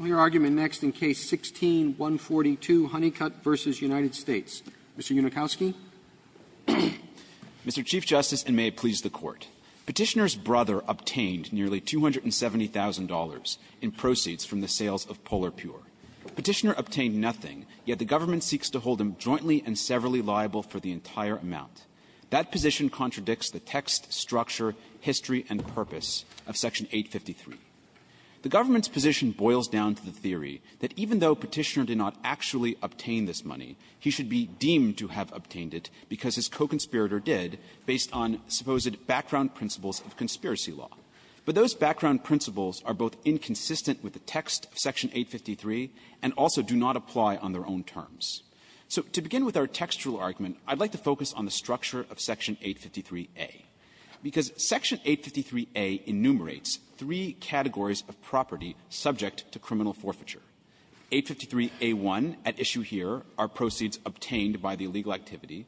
Mr. Unikowsky. Unikowsky, Mr. Chief Justice, and may it please the Court. Petitioner's brother obtained nearly $270,000 in proceeds from the sales of Polar Pure. Petitioner obtained nothing, yet the government seeks to hold him jointly and severally liable for the entire amount. That position contradicts the text, structure, history, and purpose of Section 853. The government's position boils down to the theory that even though Petitioner did not actually obtain this money, he should be deemed to have obtained it because his co-conspirator did based on supposed background principles of conspiracy law. But those background principles are both inconsistent with the text of Section 853 and also do not apply on their own terms. So to begin with our textual argument, I'd like to focus on the structure of Section 853a, because Section 853a enumerates three categories of property subject to criminal forfeiture. 853a1, at issue here, are proceeds obtained by the illegal activity.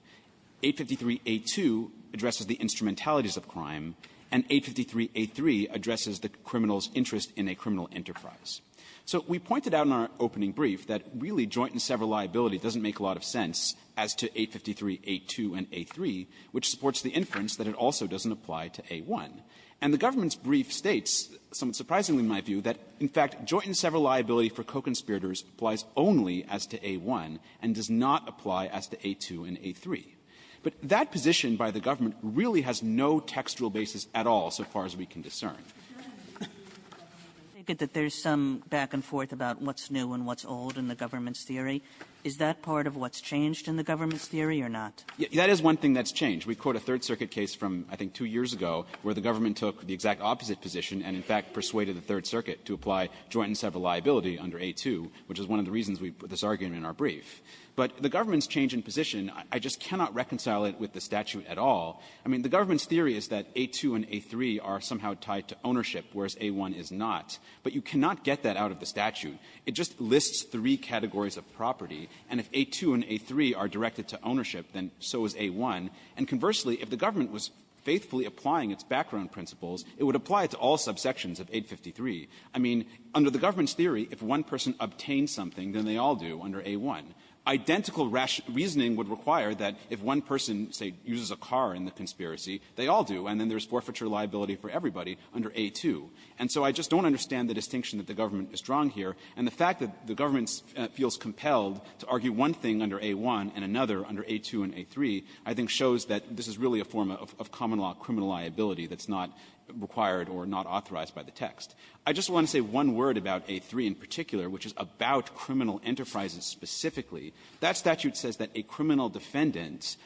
853a2 addresses the instrumentalities of crime, and 853a3 addresses the criminal's interest in a criminal enterprise. So we pointed out in our opening brief that really joint and sever liability doesn't make a lot of sense as to 853a2 and a3, which supports the inference that it also doesn't apply to a1. And the government's brief states that the government states, somewhat surprisingly in my view, that in fact joint and sever liability for co-conspirators applies only as to a1 and does not apply as to a2 and a3. But that position by the government really has no textual basis at all, so far as we can discern. Kagan taken it back and forth about what's new and what's old in the government's theory. Is that part of what's changed in the government's theory or not? That is one thing that's changed. The government took the exact opposite position and, in fact, persuaded the Third Circuit to apply joint and sever liability under a2, which is one of the reasons we put this argument in our brief. But the government's change in position, I just cannot reconcile it with the statute at all. I mean, the government's theory is that a2 and a3 are somehow tied to ownership, whereas a1 is not. But you cannot get that out of the statute. It just lists three categories of property. And if a2 and a3 are directed to ownership, then so is a1. And conversely, if the government was faithfully applying its background principles, it would apply it to all subsections of 853. I mean, under the government's theory, if one person obtained something, then they all do under a1. Identical rationing would require that if one person, say, uses a car in the conspiracy, they all do, and then there's forfeiture liability for everybody under a2. And so I just don't understand the distinction that the government is drawing here. And the fact that the government feels compelled to argue one thing under a1 and another under a2 and a3, I think, shows that this is really a form of common-law criminal liability that's not required or not authorized by the text. I just want to say one word about a3 in particular, which is about criminal enterprises specifically. That statute says that a criminal defendant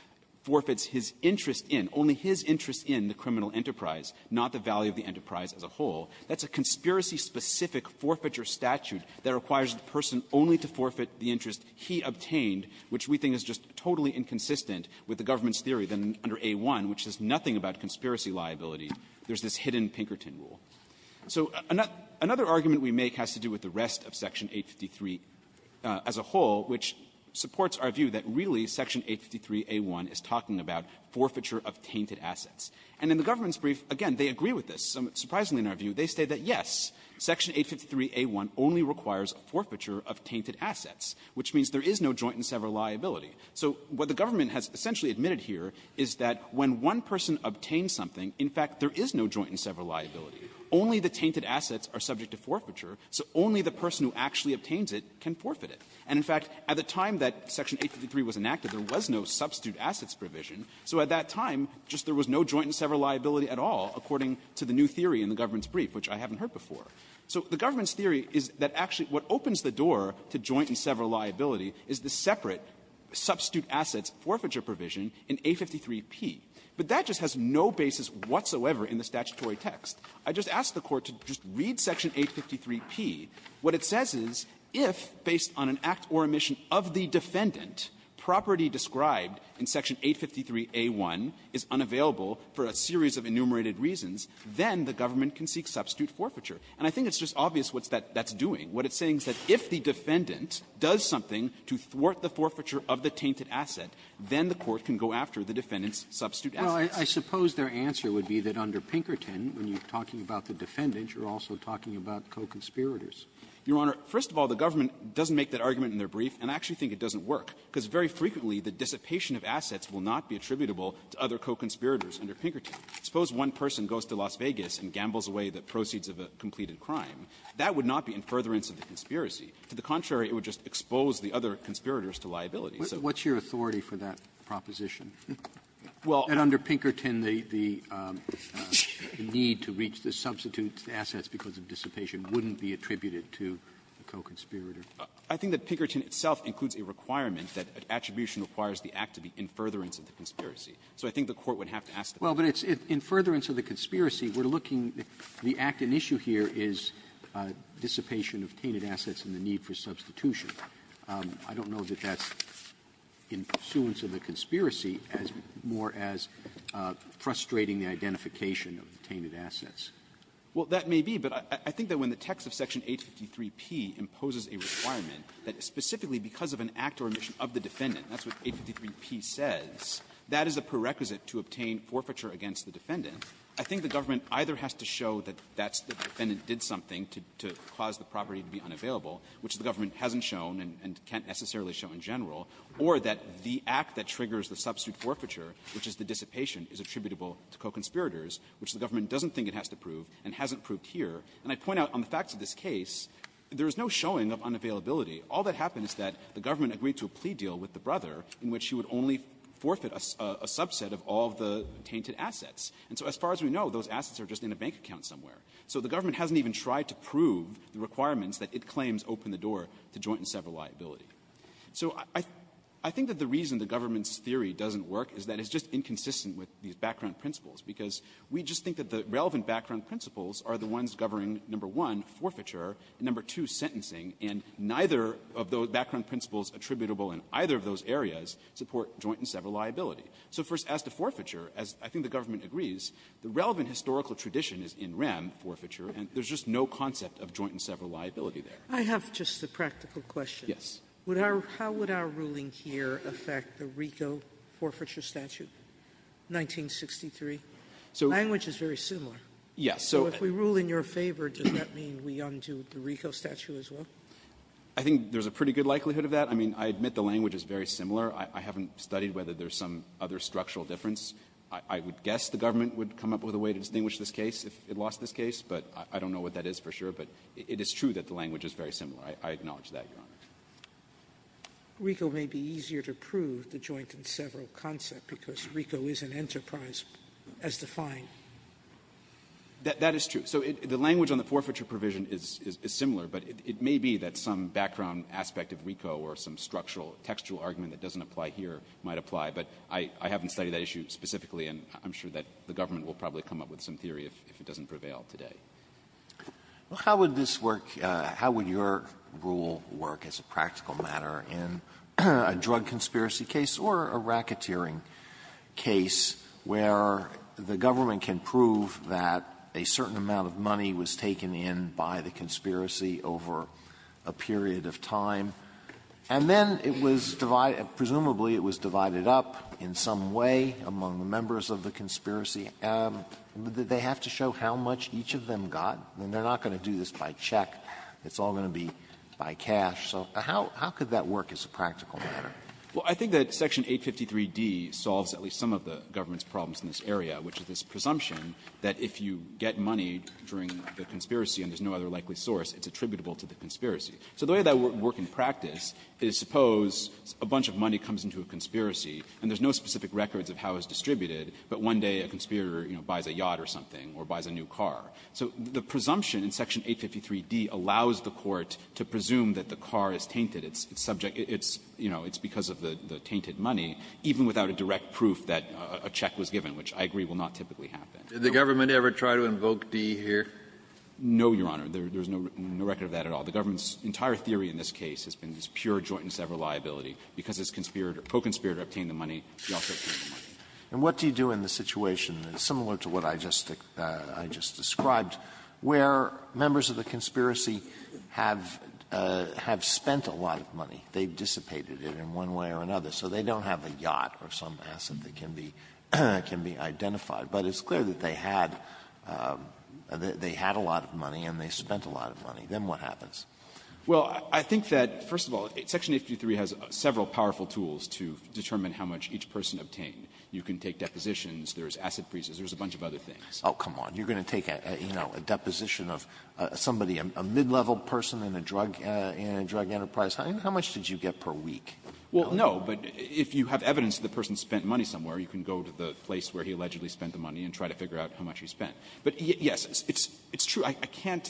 forfeits his interest in, only his interest in, the criminal enterprise, not the value of the enterprise as a whole. That's a conspiracy-specific forfeiture statute that requires the person only to forfeit the interest he obtained, which we think is just totally inconsistent with the government's theory that under a1, which is nothing about conspiracy liability, there's this hidden Pinkerton rule. So another argument we make has to do with the rest of Section 853 as a whole, which supports our view that really Section 853a1 is talking about forfeiture of tainted assets. And in the government's brief, again, they agree with this. Surprisingly, in our view, they say that, yes, Section 853a1 only requires a forfeiture of tainted assets, which means there is no joint and sever liability. So what the government has essentially admitted here is that when one person obtains something, in fact, there is no joint and sever liability. Only the tainted assets are subject to forfeiture, so only the person who actually obtains it can forfeit it. And, in fact, at the time that Section 853 was enacted, there was no substitute assets provision, so at that time, just there was no joint and sever liability at all, according to the new theory in the government's brief, which I haven't heard before. So the government's theory is that actually what opens the door to joint and sever liability is the separate substitute assets forfeiture provision in 853p. But that just has no basis whatsoever in the statutory text. I just asked the Court to just read Section 853p. What it says is if, based on an act or omission of the defendant, property described in Section 853a1 is unavailable for a series of enumerated reasons, then the government can seek substitute forfeiture. And I think it's just obvious what that's doing. What it's saying is that if the defendant does something to thwart the forfeiture of the tainted asset, then the Court can go after the defendant's substitute assets. Robertson, I suppose their answer would be that under Pinkerton, when you're talking about the defendant, you're also talking about co-conspirators. Your Honor, first of all, the government doesn't make that argument in their brief, and I actually think it doesn't work, because very frequently the dissipation of assets will not be attributable to other co-conspirators under Pinkerton. Suppose one person goes to Las Vegas and gambles away the proceeds of a completed crime. That would not be in furtherance of the conspiracy. To the contrary, it would just expose the other conspirators to liability. So what's your authority for that proposition? Well, under Pinkerton, the need to reach the substitute assets because of dissipation wouldn't be attributed to the co-conspirator. I think that Pinkerton itself includes a requirement that attribution requires the act to be in furtherance of the conspiracy. So I think the Court would have to ask the Court. Robertson, well, but it's in furtherance of the conspiracy. We're looking at the act. An issue here is dissipation of tainted assets and the need for substitution. I don't know that that's in pursuance of the conspiracy as more as frustrating the identification of the tainted assets. Well, that may be. But I think that when the text of Section 853p imposes a requirement, that specifically because of an act or omission of the defendant, that's what 853p says, that is a part of that prerequisite to obtain forfeiture against the defendant. I think the government either has to show that that's the defendant did something to cause the property to be unavailable, which the government hasn't shown and can't necessarily show in general, or that the act that triggers the substitute forfeiture, which is the dissipation, is attributable to co-conspirators, which the government doesn't think it has to prove and hasn't proved here. And I point out on the facts of this case, there is no showing of unavailability. All that happens is that the government agreed to a plea deal with the brother in which he would only forfeit a subset of all of the tainted assets. And so as far as we know, those assets are just in a bank account somewhere. So the government hasn't even tried to prove the requirements that it claims open the door to joint and several liability. So I think that the reason the government's theory doesn't work is that it's just inconsistent with these background principles, because we just think that the relevant background principles are the ones governing, number one, forfeiture, and, number two, sentencing. And neither of those background principles attributable in either of those areas support joint and several liability. So first, as to forfeiture, as I think the government agrees, the relevant historical tradition is in REM, forfeiture, and there's just no concept of joint and several liability there. Sotomayor, I have just a practical question. Rosenkranz, yes. Sotomayor, would our how would our ruling here affect the RICO forfeiture statute, 1963? Language is very similar. Rosenkranz, yes. So if we rule in your favor, does that mean we undo the RICO statute as well? I think there's a pretty good likelihood of that. I mean, I admit the language is very similar. I haven't studied whether there's some other structural difference. I would guess the government would come up with a way to distinguish this case if it lost this case, but I don't know what that is for sure. But it is true that the language is very similar. I acknowledge that, Your Honor. RICO may be easier to prove, the joint and several concept, because RICO is an enterprise as defined. Rosenkranz, that is true. So the language on the forfeiture provision is similar, but it may be that some background aspect of RICO or some structural, textual argument that doesn't apply here might apply. But I haven't studied that issue specifically, and I'm sure that the government will probably come up with some theory if it doesn't prevail today. Alito, how would this work? How would your rule work as a practical matter in a drug conspiracy case or a racketeering case where the government can prove that a certain amount of money was taken in by the conspiracy over a period of time, and then it was divided up, presumably it was divided up in some way among the members of the conspiracy? They have to show how much each of them got. They're not going to do this by check. It's all going to be by cash. So how could that work as a practical matter? Well, I think that Section 853d solves at least some of the government's problems in this area, which is this presumption that if you get money during the conspiracy and there's no other likely source, it's attributable to the conspiracy. So the way that would work in practice is suppose a bunch of money comes into a conspiracy, and there's no specific records of how it's distributed, but one day a conspirator, you know, buys a yacht or something or buys a new car. So the presumption in Section 853d allows the court to presume that the car is tainted. It's subject to its, you know, it's because of the tainted money, even without a direct proof that a check was given, which I agree will not typically happen. Did the government ever try to invoke D here? No, Your Honor. There's no record of that at all. The government's entire theory in this case has been this pure jointness-ever-liability. Because this conspirator, co-conspirator obtained the money, he also obtained the money. And what do you do in the situation, similar to what I just described, where members of the conspiracy have spent a lot of money? They've dissipated it in one way or another. So they don't have a yacht or some asset that can be identified. But it's clear that they had a lot of money and they spent a lot of money. Then what happens? Well, I think that, first of all, Section 853 has several powerful tools to determine how much each person obtained. You can take depositions. There's asset breaches. There's a bunch of other things. Oh, come on. You're going to take, you know, a deposition of somebody, a mid-level person in a drug enterprise. How much did you get per week? Well, no. But if you have evidence that the person spent money somewhere, you can go to the place where he allegedly spent the money and try to figure out how much he spent. But, yes, it's true. I can't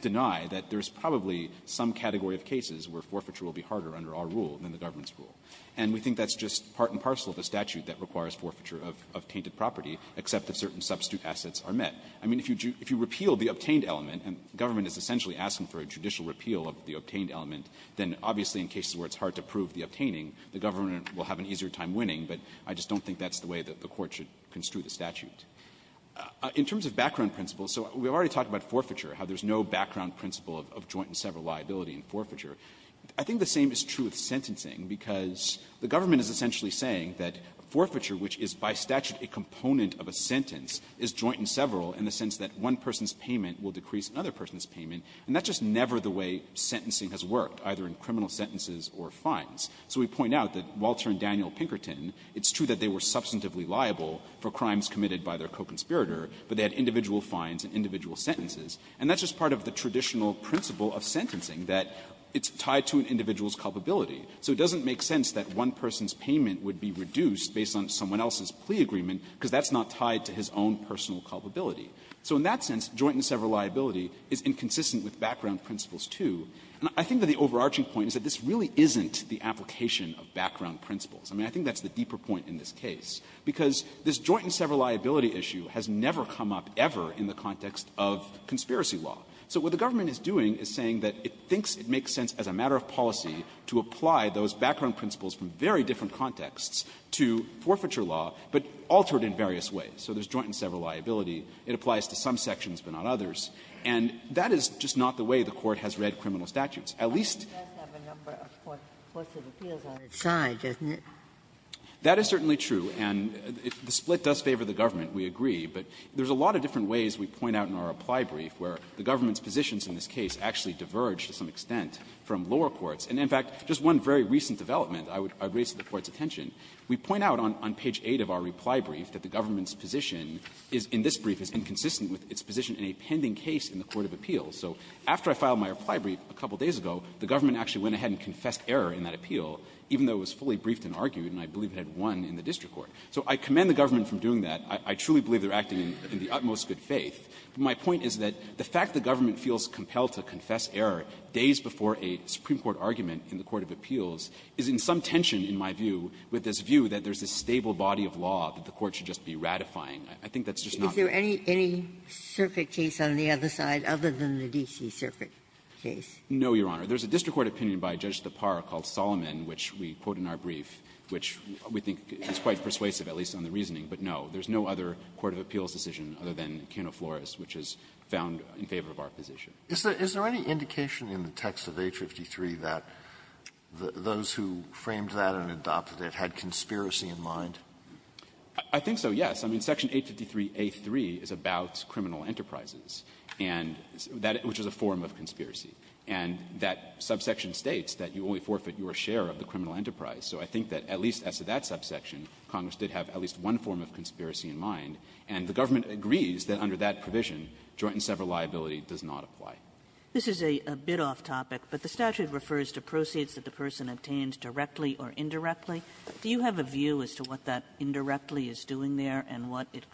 deny that there's probably some category of cases where forfeiture will be harder under our rule than the government's rule. And we think that's just part and parcel of the statute that requires forfeiture of tainted property, except that certain substitute assets are met. I mean, if you repeal the obtained element, and government is essentially asking for a judicial repeal of the obtained element, then obviously in cases where it's hard to prove the obtaining, the government will have an easier time winning. But I just don't think that's the way that the Court should construe the statute. In terms of background principles, so we've already talked about forfeiture, how there's no background principle of joint and several liability in forfeiture. I think the same is true with sentencing, because the government is essentially saying that forfeiture, which is by statute a component of a sentence, is joint and several in the sense that one person's payment will decrease another person's payment, and that's just never the way sentencing has worked, either in criminal sentences or fines. So we point out that Walter and Daniel Pinkerton, it's true that they were substantively liable for crimes committed by their co-conspirator, but they had individual fines and individual sentences. And that's just part of the traditional principle of sentencing, that it's tied to an individual's culpability. So it doesn't make sense that one person's payment would be reduced based on someone else's plea agreement, because that's not tied to his own personal culpability. So in that sense, joint and several liability is inconsistent with background principles, too. And I think that the overarching point is that this really isn't the application of background principles. I mean, I think that's the deeper point in this case, because this joint and several liability issue has never come up ever in the context of conspiracy law. It's a matter of policy to apply those background principles from very different contexts to forfeiture law, but alter it in various ways. So there's joint and several liability. It applies to some sections, but not others. And that is just not the way the Court has read criminal statutes. At least the Court does have a number of forfeited appeals on its side, doesn't it? That is certainly true. And if the split does favor the government, we agree. But there's a lot of different ways we point out in our apply brief where the government's position in this case actually diverged to some extent from lower courts. And, in fact, just one very recent development I would raise to the Court's attention. We point out on page 8 of our reply brief that the government's position is, in this brief, is inconsistent with its position in a pending case in the court of appeals. So after I filed my reply brief a couple days ago, the government actually went ahead and confessed error in that appeal, even though it was fully briefed and argued, and I believe it had won in the district court. So I commend the government for doing that. I truly believe they're acting in the utmost good faith. My point is that the fact the government feels compelled to confess error days before a Supreme Court argument in the court of appeals is in some tension, in my view, with this view that there's a stable body of law that the Court should just be ratifying. I think that's just not the case. Ginsburg. Is there any circuit case on the other side other than the D.C. circuit case? No, Your Honor. There's a district court opinion by Judge Tapar called Solomon, which we quote in our brief, which we think is quite persuasive, at least on the reasoning, but no. There's no other court of appeals decision other than Keno Flores, which is found in favor of our position. Is there any indication in the text of 853 that those who framed that and adopted it had conspiracy in mind? I think so, yes. I mean, Section 853a3 is about criminal enterprises, and that was just a form of conspiracy. And that subsection states that you only forfeit your share of the criminal enterprise. So I think that at least as to that subsection, Congress did have at least one form of conspiracy in mind, and the government agrees that under that provision, joint and several liability does not apply. This is a bit off topic, but the statute refers to proceeds that the person obtained directly or indirectly. Do you have a view as to what that indirectly is doing there and what it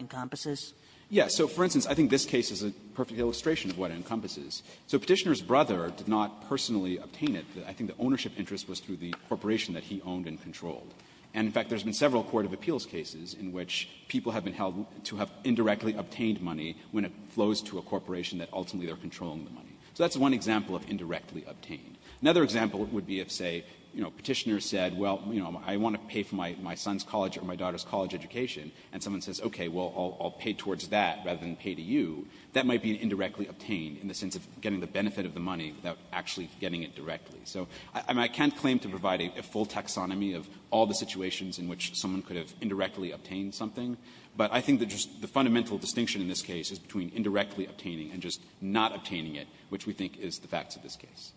encompasses? Yes. So, for instance, I think this case is a perfect illustration of what it encompasses. So Petitioner's brother did not personally obtain it. I think the ownership interest was through the corporation that he owned and controlled. And, in fact, there's been several court of appeals cases in which people have been held to have indirectly obtained money when it flows to a corporation that ultimately they're controlling the money. So that's one example of indirectly obtained. Another example would be if, say, you know, Petitioner said, well, you know, I want to pay for my son's college or my daughter's college education, and someone says, okay, well, I'll pay towards that rather than pay to you, that might be an indirectly obtained in the sense of getting the benefit of the money without actually getting it directly. So I can't claim to provide a full taxonomy of all the situations in which someone could have indirectly obtained something, but I think that just the fundamental distinction in this case is between indirectly obtaining and just not obtaining it, which we think is the facts of this case.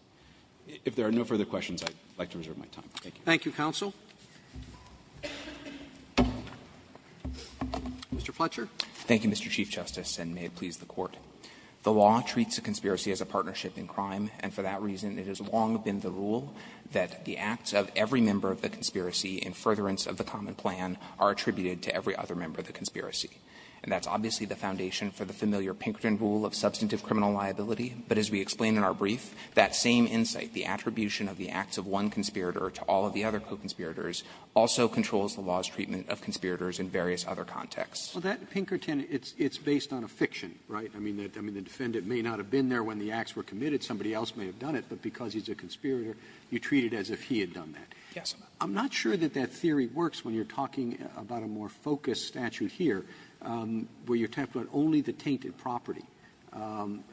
If there are no further questions, I'd like to reserve my time. Thank you. Roberts. Thank you, counsel. Mr. Fletcher. Thank you, Mr. Chief Justice, and may it please the Court. The law treats a conspiracy as a partnership in crime, and for that reason, it has long been the rule that the acts of every member of the conspiracy in furtherance of the common plan are attributed to every other member of the conspiracy. And that's obviously the foundation for the familiar Pinkerton rule of substantive criminal liability, but as we explained in our brief, that same insight, the attribution of the acts of one conspirator to all of the other co-conspirators, also controls the law's treatment of conspirators in various other contexts. Well, that, Pinkerton, it's based on a fiction, right? I mean, the defendant may not have been there when the acts were committed. Somebody else may have done it, but because he's a conspirator, you treat it as if he had done that. Yes. I'm not sure that that theory works when you're talking about a more focused statute here, where you're talking about only the tainted property. And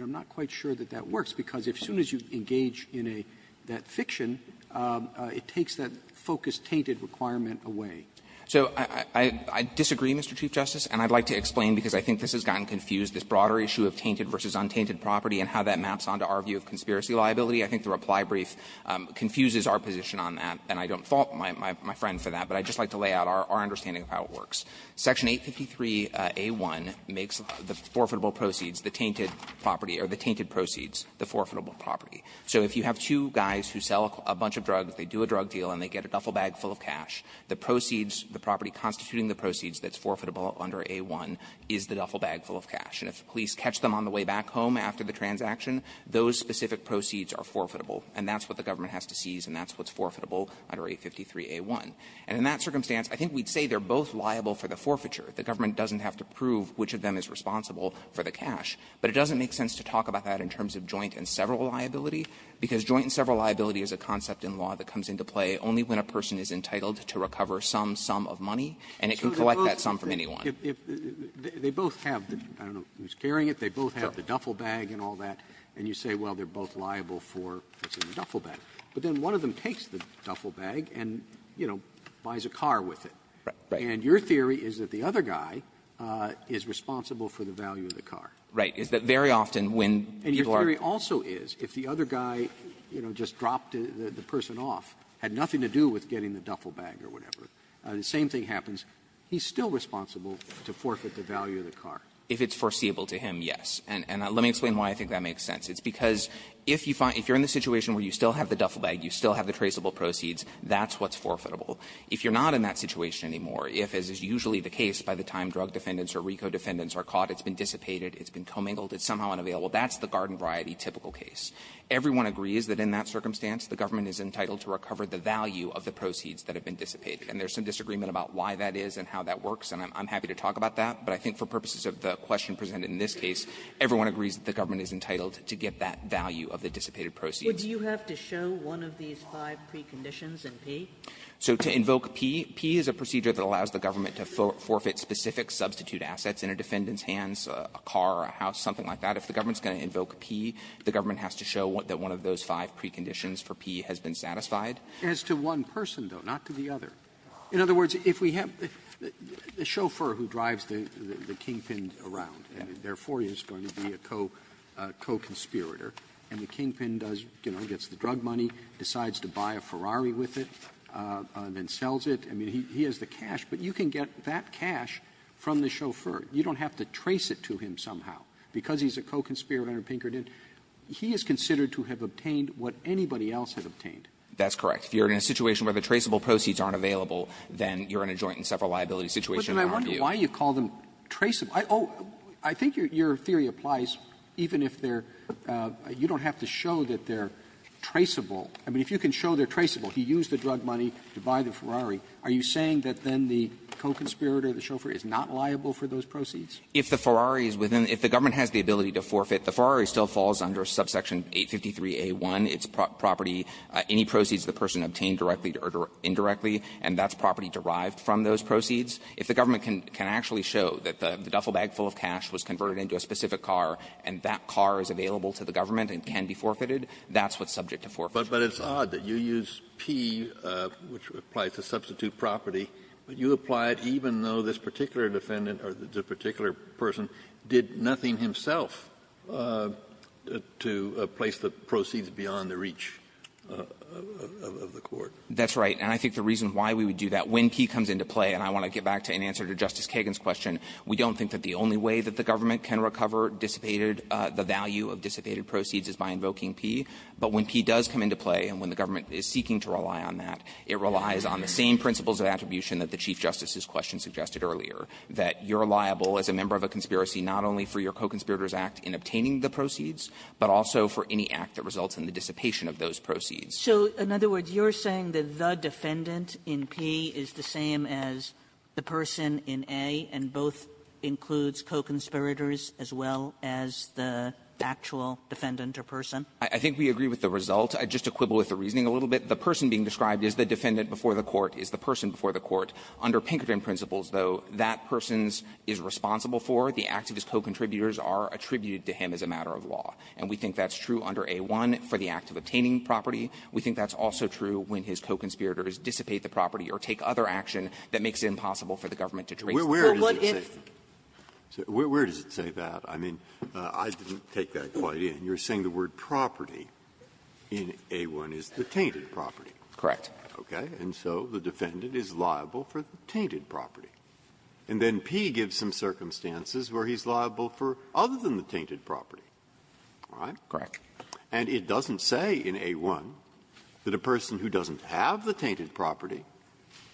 I'm not quite sure that that works, because as soon as you engage in a that fiction, it takes that focused, tainted requirement away. So I disagree, Mr. Chief Justice, and I'd like to explain, because I think this has gotten confused, this broader issue of tainted versus untainted property and how that maps on to our view of conspiracy liability. I think the reply brief confuses our position on that, and I don't fault my friend for that, but I'd just like to lay out our understanding of how it works. Section 853a1 makes the forfeitable proceeds, the tainted property, or the tainted proceeds the forfeitable property. So if you have two guys who sell a bunch of drugs, they do a drug deal, and they get a duffel bag full of cash, the proceeds, the property constituting the proceeds that's forfeitable under a1 is the duffel bag full of cash. And if the police catch them on the way back home after the transaction, those specific proceeds are forfeitable, and that's what the government has to seize, and that's what's forfeitable under 853a1. And in that circumstance, I think we'd say they're both liable for the forfeiture. The government doesn't have to prove which of them is responsible for the cash. But it doesn't make sense to talk about that in terms of joint and several liability, because joint and several liability is a concept in law that comes into play only when a person is entitled to recover some sum of money, and it can collect that sum from anyone. Robertson, I don't know who's carrying it. They both have the duffel bag and all that. And you say, well, they're both liable for the duffel bag. But then one of them takes the duffel bag and, you know, buys a car with it. And your theory is that the other guy is responsible for the value of the car. Right. Is that very often when people are ---- And your theory also is, if the other guy, you know, just dropped the person off, had nothing to do with getting the duffel bag or whatever, the same thing happens. He's still responsible to forfeit the value of the car. If it's foreseeable to him, yes. And let me explain why I think that makes sense. It's because if you find ---- if you're in the situation where you still have the duffel bag, you still have the traceable proceeds, that's what's forfeitable. If you're not in that situation anymore, if, as is usually the case by the time drug defendants or RICO defendants are caught, it's been dissipated, it's been commingled, it's somehow unavailable, that's the garden variety typical case. Everyone agrees that in that circumstance, the government is entitled to recover the value of the proceeds that have been dissipated. And there's some disagreement about why that is and how that works. And I'm happy to talk about that. But I think for purposes of the question presented in this case, everyone agrees that the government is entitled to get that value of the dissipated proceeds. Sotomayor, do you have to show one of these five preconditions in P? So to invoke P, P is a procedure that allows the government to forfeit specific substitute assets in a defendant's hands, a car, a house, something like that. If the government's going to invoke P, the government has to show that one of those five preconditions for P has been satisfied. Roberts As to one person, though, not to the other. In other words, if we have a chauffeur who drives the Kingpin around, and therefore he is going to be a co-conspirator, and the Kingpin does, you know, gets the drug money, decides to buy a Ferrari with it, then sells it. I mean, he has the cash, but you can get that cash from the chauffeur. You don't have to trace it to him somehow. Because he's a co-conspirator under Pinkerton, he is considered to have obtained what anybody else had obtained. That's correct. If you're in a situation where the traceable proceeds aren't available, then you're in a joint and separate liability situation in our view. Roberts But then I wonder why you call them traceable. I think your theory applies even if they're – you don't have to show that they're traceable. I mean, if you can show they're traceable, he used the drug money to buy the Ferrari, are you saying that then the co-conspirator, the chauffeur, is not liable for those proceeds? If the Ferrari is within – if the government has the ability to forfeit, the Ferrari still falls under subsection 853A1. It's property – any proceeds the person obtained directly or indirectly, and that's property derived from those proceeds. If the government can actually show that the duffel bag full of cash was converted into a specific car and that car is available to the government and can be forfeited, that's what's subject to forfeiture. Kennedy But it's odd that you use P, which applies to substitute property, but you apply it even though this particular defendant or this particular person did nothing to place the proceeds beyond the reach of the court. That's right. And I think the reason why we would do that, when P comes into play, and I want to get back to an answer to Justice Kagan's question, we don't think that the only way that the government can recover dissipated – the value of dissipated proceeds is by invoking P. But when P does come into play and when the government is seeking to rely on that, it relies on the same principles of attribution that the Chief Justice's question suggested earlier, that you're liable as a member of a conspiracy not only for your co-conspirators' act in obtaining the proceeds, but also for any act that results in the dissipation of those proceeds. So in other words, you're saying that the defendant in P is the same as the person in A, and both includes co-conspirators as well as the actual defendant or person? I think we agree with the result. I'd just quibble with the reasoning a little bit. The person being described is the defendant before the court, is the person before the court. Under Pinkerton principles, though, that person's is responsible for, the activist co-contributors are attributed to him as a matter of law. And we think that's true under A-1 for the act of obtaining property. We think that's also true when his co-conspirators dissipate the property or take other action that makes it impossible for the government to trace the property. Breyer, where does it say that? I mean, I didn't take that quite in. You're saying the word property in A-1 is the tainted property. Correct. Okay. And so the defendant is liable for the tainted property. And then P gives some circumstances where he's liable for other than the tainted property. All right? Correct. And it doesn't say in A-1 that a person who doesn't have the tainted property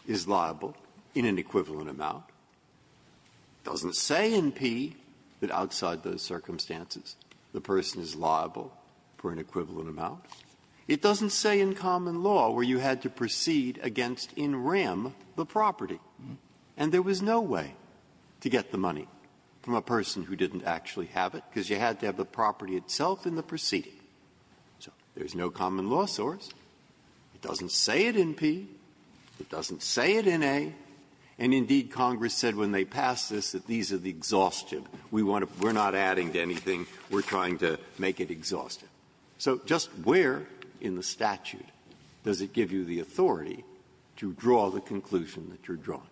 is liable in an equivalent amount. It doesn't say in P that outside those circumstances the person is liable for an equivalent amount. It doesn't say in common law where you had to proceed against in rem the property. And there was no way to get the money from a person who didn't actually have it, because you had to have the property itself in the proceeding. So there's no common law source. It doesn't say it in P. It doesn't say it in A. And indeed, Congress said when they passed this that these are the exhaustive. We want to be we're not adding to anything. We're trying to make it exhaustive. So just where in the statute does it give you the authority to draw the conclusion that you're drawing?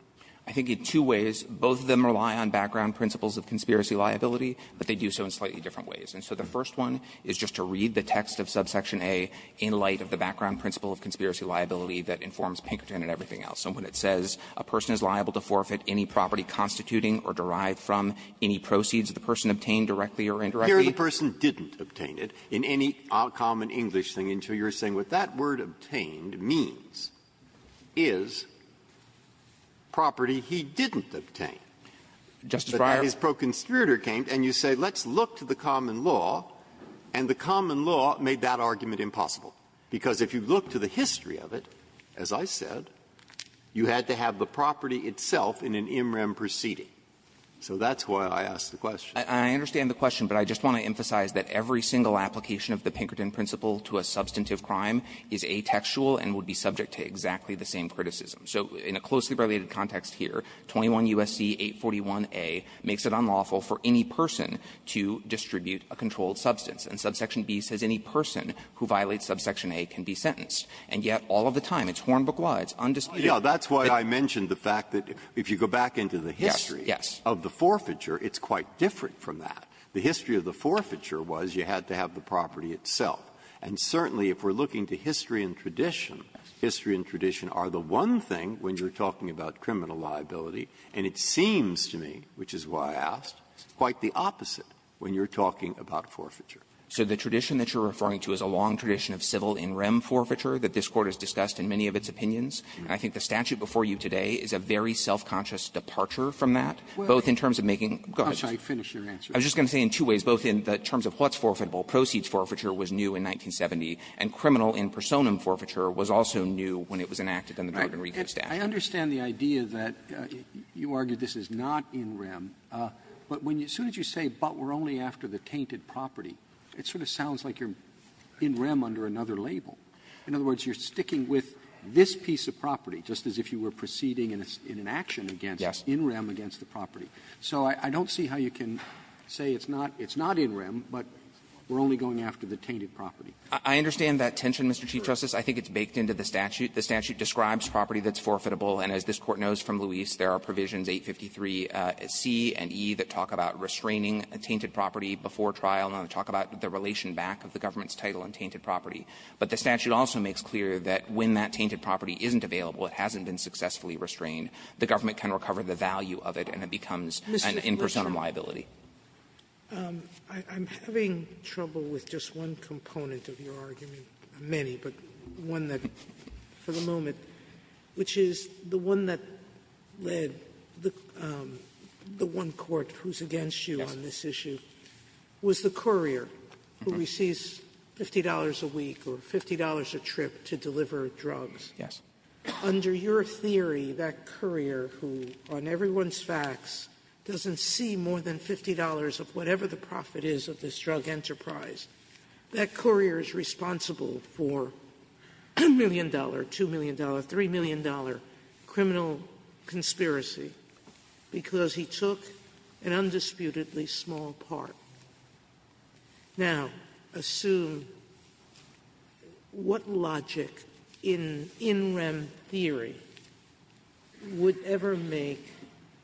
I think in two ways. Both of them rely on background principles of conspiracy liability, but they do so in slightly different ways. And so the first one is just to read the text of subsection A in light of the background principle of conspiracy liability that informs Pinkerton and everything else. And when it says a person is liable to forfeit any property constituting or derived from any proceeds of the person obtained directly or indirectly. Here the person didn't obtain it in any common English thing until you're saying what that word obtained means is property he didn't obtain. Justice Breyer. But then his proconspirator came and you say let's look to the common law, and the common law made that argument impossible. Because if you look to the history of it, as I said, you had to have the property itself in an MREM proceeding. So that's why I asked the question. I understand the question, but I just want to emphasize that every single application of the Pinkerton principle to a substantive crime is atextual and would be subject to exactly the same criticism. So in a closely related context here, 21 U.S.C. 841a makes it unlawful for any person to distribute a controlled substance. And subsection B says any person who violates subsection A can be sentenced. And yet all of the time, it's hornbook-wide. It's undisputed. Breyer. That's why I mentioned the fact that if you go back into the history of the forfeiture, it's quite different from that. The history of the forfeiture was you had to have the property itself. And certainly, if we're looking to history and tradition, history and tradition are the one thing when you're talking about criminal liability. And it seems to me, which is why I asked, quite the opposite when you're talking about forfeiture. So the tradition that you're referring to is a long tradition of civil in REM forfeiture that this Court has discussed in many of its opinions. And I think the statute before you today is a very self-conscious departure from that, both in terms of making goods. I'm sorry. Finish your answer. I was just going to say in two ways, both in terms of what's forfeitable. Proceeds forfeiture was new in 1970. And criminal in personam forfeiture was also new when it was enacted under the Jordan-Rico statute. I understand the idea that you argue this is not in REM. But when you as soon as you say, but we're only after the tainted property, it sort of sounds like you're in REM under another label. In other words, you're sticking with this piece of property, just as if you were proceeding in an action against in REM against the property. So I don't see how you can say it's not in REM, but we're only going after the tainted property. I understand that tension, Mr. Chief Justice. I think it's baked into the statute. The statute describes property that's forfeitable. And as this Court knows from Luis, there are provisions 853C and E that talk about restraining a tainted property before trial, and they talk about the relation back of the government's title on tainted property. But the statute also makes clear that when that tainted property isn't available, it hasn't been successfully restrained, the government can recover the value of it, and it becomes an impersonal liability. Sotomayor, I'm having trouble with just one component of your argument, many, but one that, for the moment, which is the one that led the one court who's against you on this issue was the courier who receives $50 a week or $50 a trip to deliver drugs. Yes. Under your theory, that courier who, on everyone's facts, doesn't see more than $50 of whatever the profit is of this drug enterprise, that courier is responsible for a million-dollar, two-million-dollar, three-million-dollar criminal conspiracy because he took an undisputedly small part. Now, assume what logic in in-rem theory would ever make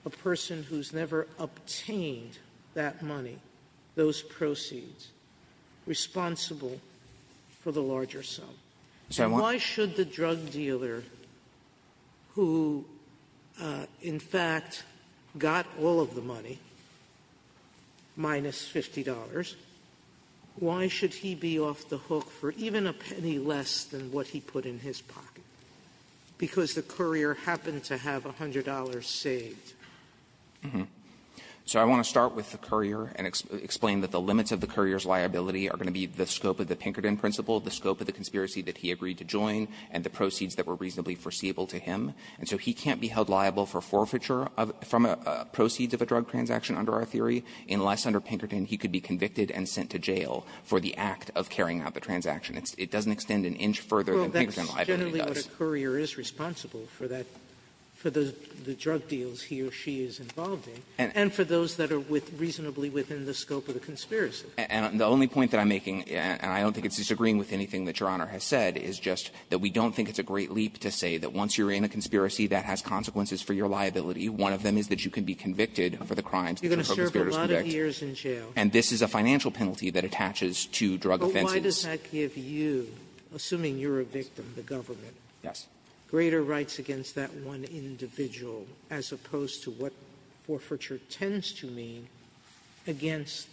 a person who's never obtained that money, those proceeds, responsible for the larger sum? So why should the drug dealer who, in fact, got all of the money, minus $50 a week, minus $50, why should he be off the hook for even a penny less than what he put in his pocket because the courier happened to have $100 saved? So I want to start with the courier and explain that the limits of the courier's liability are going to be the scope of the Pinkerton principle, the scope of the conspiracy that he agreed to join, and the proceeds that were reasonably foreseeable to him. And so he can't be held liable for forfeiture of the proceeds of a drug transaction under our theory unless, under Pinkerton, he could be convicted and sent to jail for the act of carrying out the transaction. It doesn't extend an inch further than Pinkerton liability does. Sotomayor, that's generally what a courier is responsible for that, for the drug deals he or she is involved in, and for those that are reasonably within the scope of the conspiracy. And the only point that I'm making, and I don't think it's disagreeing with anything that Your Honor has said, is just that we don't think it's a great leap to say that once you're in a conspiracy, that has consequences for your liability. One of them is that you can be convicted for the crimes that you're supposed to be able to convict. Sotomayor, and this is a financial penalty that attaches to drug offenses. Sotomayor, but why does that give you, assuming you're a victim, the government, greater rights against that one individual as opposed to what forfeiture tends to mean against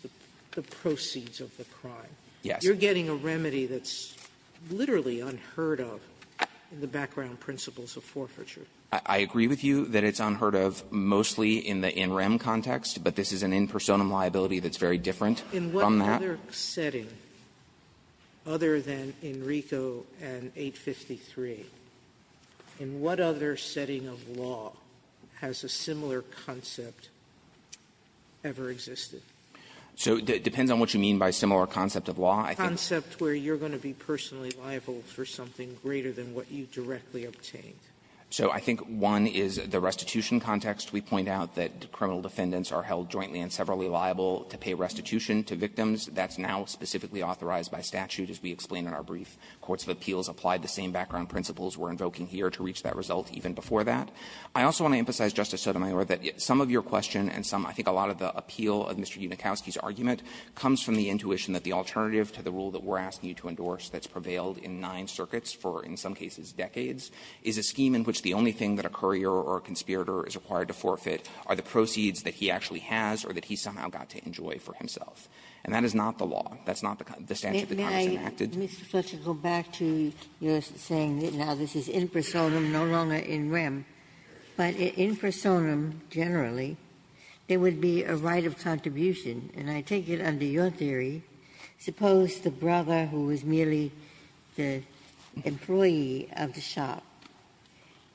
the proceeds of the crime? Yes. You're getting a remedy that's literally unheard of in the background principles of forfeiture. I agree with you that it's unheard of mostly in the NREM context, but this is an in personam liability that's very different from that. In what other setting, other than in RICO and 853, in what other setting of law has a similar concept ever existed? So it depends on what you mean by similar concept of law. I think the concept where you're going to be personally liable for something greater than what you directly obtained. So I think one is the restitution context. We point out that criminal defendants are held jointly and severally liable to pay restitution to victims. That's now specifically authorized by statute, as we explained in our brief. Courts of appeals applied the same background principles we're invoking here to reach that result even before that. I also want to emphasize, Justice Sotomayor, that some of your question and some of the appeal of Mr. Unikowsky's argument comes from the intuition that the alternative to the rule that we're asking you to endorse that's prevailed in nine circuits for, in some cases, decades, is a scheme in which the only thing that a courier or a conspirator is required to forfeit are the proceeds that he actually has or that he somehow got to enjoy for himself. And that is not the law. That's not the statute that Congress enacted. Ginsburg. May I, Mr. Fletcher, go back to your saying that now this is in personam, no longer in rem, but in personam generally, there would be a right of contribution. And I take it under your theory, suppose the brother who was merely the employee of the shop,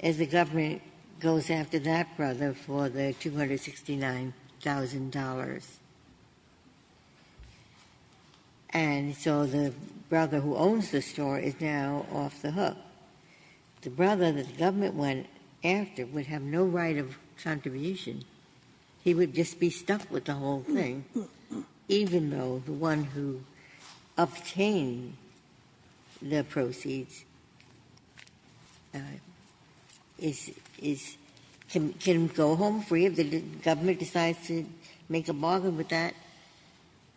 as the government goes after that brother for the $269,000, and so the brother who owns the store is now off the hook. The brother that the government went after would have no right of contribution. He would just be stuck with the whole thing, even though the one who obtained the proceeds is going to go home free if the government decides to make a bargain with that,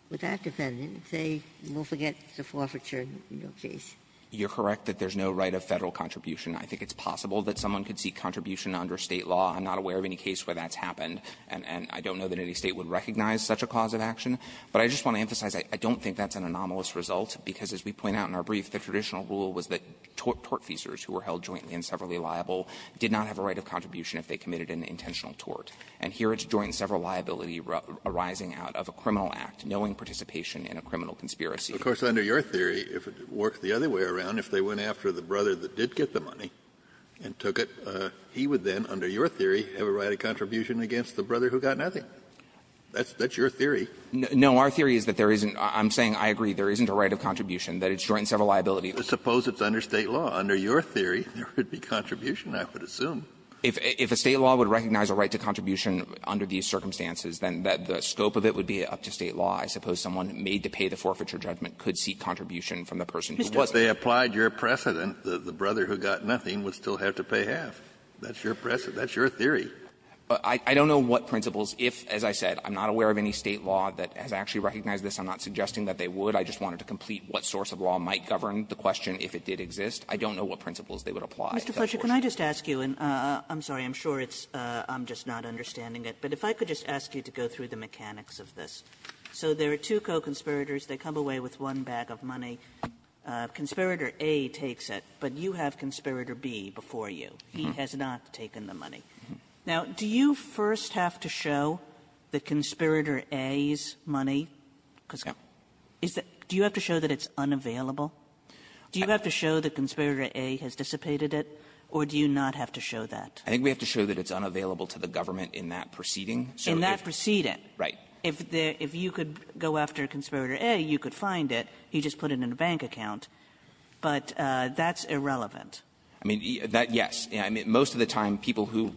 with that defendant. They will forget the forfeiture in your case. You're correct that there's no right of Federal contribution. I think it's possible that someone could seek contribution under State law. I'm not aware of any case where that's happened. And I don't know that any State would recognize such a cause of action. But I just want to emphasize, I don't think that's an anomalous result, because as we point out in our brief, the traditional rule was that tortfeasors who were held jointly and severally liable did not have a right of contribution if they committed an intentional tort. And here it's joint sever liability arising out of a criminal act, knowing participation in a criminal conspiracy. Kennedy, of course, under your theory, if it worked the other way around, if they went after the brother that did get the money and took it, he would then, under your theory, have a right of contribution against the brother who got nothing. That's your theory. No. Our theory is that there isn't – I'm saying I agree there isn't a right of contribution, that it's joint and sever liability. Suppose it's under State law. Under your theory, there would be contribution, I would assume. If a State law would recognize a right to contribution under these circumstances, then the scope of it would be up to State law. I suppose someone made to pay the forfeiture judgment could seek contribution from the person who wasn't. If they applied your precedent, the brother who got nothing would still have to pay half. That's your precedent. That's your theory. I don't know what principles, if, as I said, I'm not aware of any State law that has actually recognized this. I'm not suggesting that they would. I just wanted to complete what source of law might govern the question if it did exist. I don't know what principles they would apply. Kagan. Kagan. Kagan. Kagan. Kagan. Kagan. Kagan. Kagan. Kagan. Kagan. Kagan. Kagan. Kagan. Well, I mean, I'm saying that again that Conspirator A takes it, but you have Conspirator B before you. He has not taken the money. Now, do you first have to show that Conspirator A's money? Because it's, do you have to show that it's unavailable? Do you have to show that Conspirator A has dissipated it? Or do you not have to show that? I think we have to show that it's unavailable to the government in that proceeding. So if In that proceeding. Right. If there, if you could go after Conspirator A, you could find it. You just put it in a bank account. But that's irrelevant. I mean, that, yes. I mean, most of the time, people who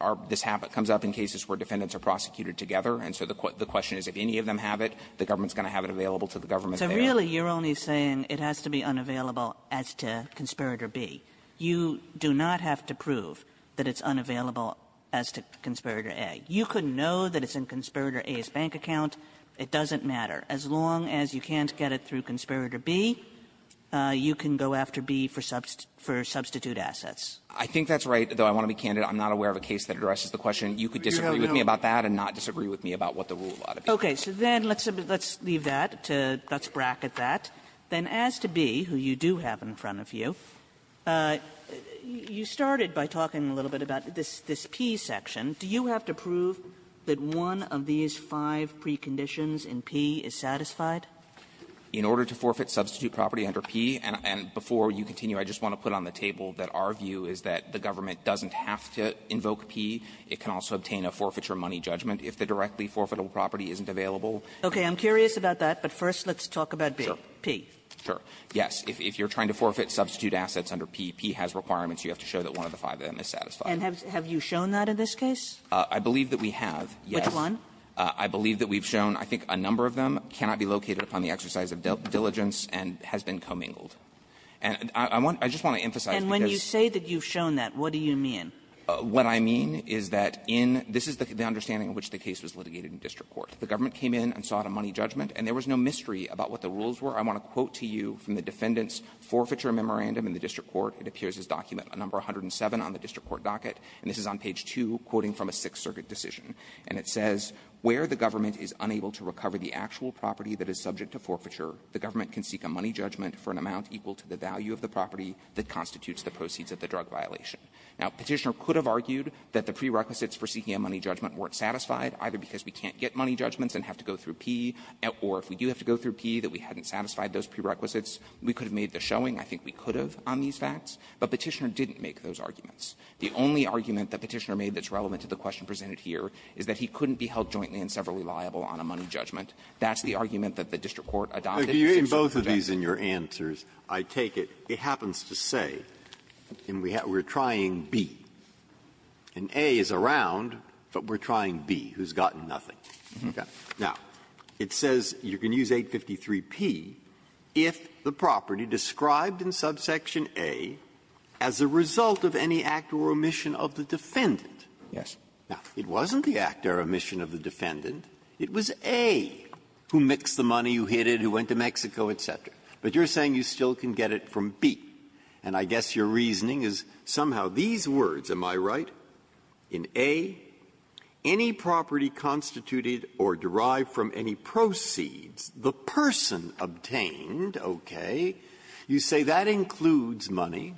are, this happens, comes up in cases where defendants are prosecuted together. And so the question is, if any of them have it, the government's going to have it available to the government there. So really, you're only saying it has to be unavailable as to Conspirator B. You do not have to prove that it's unavailable as to Conspirator A. You could know that it's in Conspirator A's bank account. It doesn't matter. As long as you can't get it through Conspirator B, you can go after B for substitute assets. I think that's right, though I want to be candid. I'm not aware of a case that addresses the question. You could disagree with me about that and not disagree with me about what the rule ought to be. Okay. So then let's leave that to, let's bracket that. Then as to B, who you do have in front of you, you started by talking a little bit about this P section. Do you have to prove that one of these five preconditions in P is satisfied? In order to forfeit substitute property under P, and before you continue, I just want to put on the table that our view is that the government doesn't have to invoke P. It can also obtain a forfeiture money judgment if the directly forfeitable property isn't available. Okay. I'm curious about that, but first let's talk about P. Sure. Yes. If you're trying to forfeit substitute assets under P, P has requirements. You have to show that one of the five of them is satisfied. And have you shown that in this case? I believe that we have, yes. Which one? I believe that we've shown, I think, a number of them cannot be located upon the exercise of diligence and has been commingled. And I want to emphasize because of this. And when you say that you've shown that, what do you mean? What I mean is that in this is the understanding in which the case was litigated in district court. The government came in and sought a money judgment, and there was no mystery about what the rules were. I want to quote to you from the defendant's forfeiture memorandum in the district court. It appears as document number 107 on the district court docket. And this is on page 2, quoting from a Sixth Circuit decision. And it says, where the government is unable to recover the actual property that is subject to forfeiture, the government can seek a money judgment for an amount equal to the value of the property that constitutes the proceeds of the drug violation. Now, Petitioner could have argued that the prerequisites for seeking a money judgment weren't satisfied, either because we can't get money judgments and have to go through P, or if we do have to go through P that we hadn't satisfied those prerequisites. We could have made the showing, I think we could have, on these facts. But Petitioner didn't make those arguments. The only argument that Petitioner made that's relevant to the question presented here is that he couldn't be held jointly and severally liable on a money judgment. That's the argument that the district court adopted. Either way you go. Breyer. Breyer. Breyer. In your answers, I take it, it happens to say, and we're trying B, and A is around, but we're trying B who's gotten nothing. Now, it says you can use 853P. If the property described in subsection A as a result of any act or omission of the defendant. Yes. Now, it wasn't the act or omission of the defendant. It was A who mixed the money, who hid it, who went to Mexico, et cetera. But you're saying you still can get it from B. And I guess your reasoning is somehow these words, am I right? In A, any property constituted or derived from any proceeds, the person obtained, okay, you say that includes money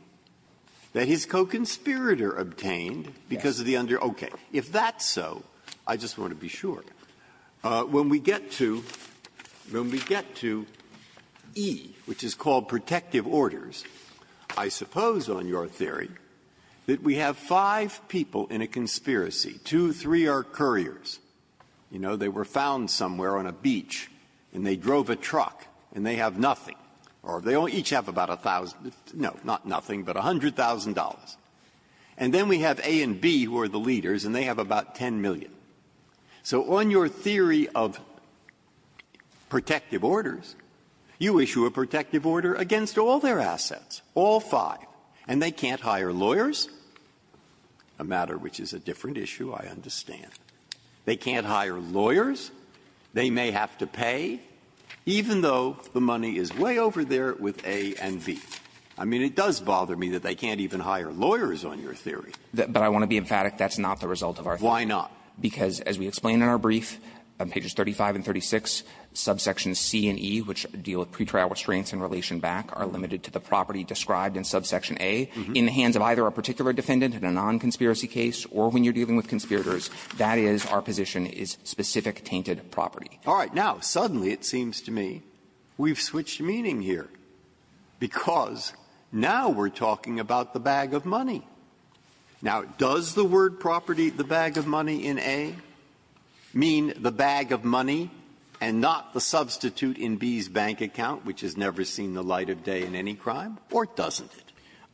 that his co-conspirator obtained because of the under --" okay. If that's so, I just want to be sure. When we get to E, which is called protective orders, I suppose on your theory that we have five people in a conspiracy, two, three are couriers, you know, they were found somewhere on a beach, and they drove a truck, and they have nothing, or they each have about a thousand, no, not nothing, but $100,000, and then we have A and B who are the leaders, and they have about $10 million. So on your theory of protective orders, you issue a protective order against all their assets, all five, and they can't hire lawyers, a matter which is a different issue, I understand. They can't hire lawyers. They may have to pay, even though the money is way over there with A and B. I mean, it does bother me that they can't even hire lawyers on your theory. But I want to be emphatic, that's not the result of our theory. Why not? Because as we explain in our brief on pages 35 and 36, subsections C and E, which deal with pretrial restraints in relation back, are limited to the property described in subsection A. In the hands of either a particular defendant in a non-conspiracy case or when you're dealing with conspirators, that is our position is specific tainted property. All right. Now, suddenly it seems to me we've switched meaning here, because now we're talking about the bag of money. Now, does the word property, the bag of money in A, mean the bag of money and not the substitute in B's bank account, which has never seen the light of day in any crime, or doesn't it?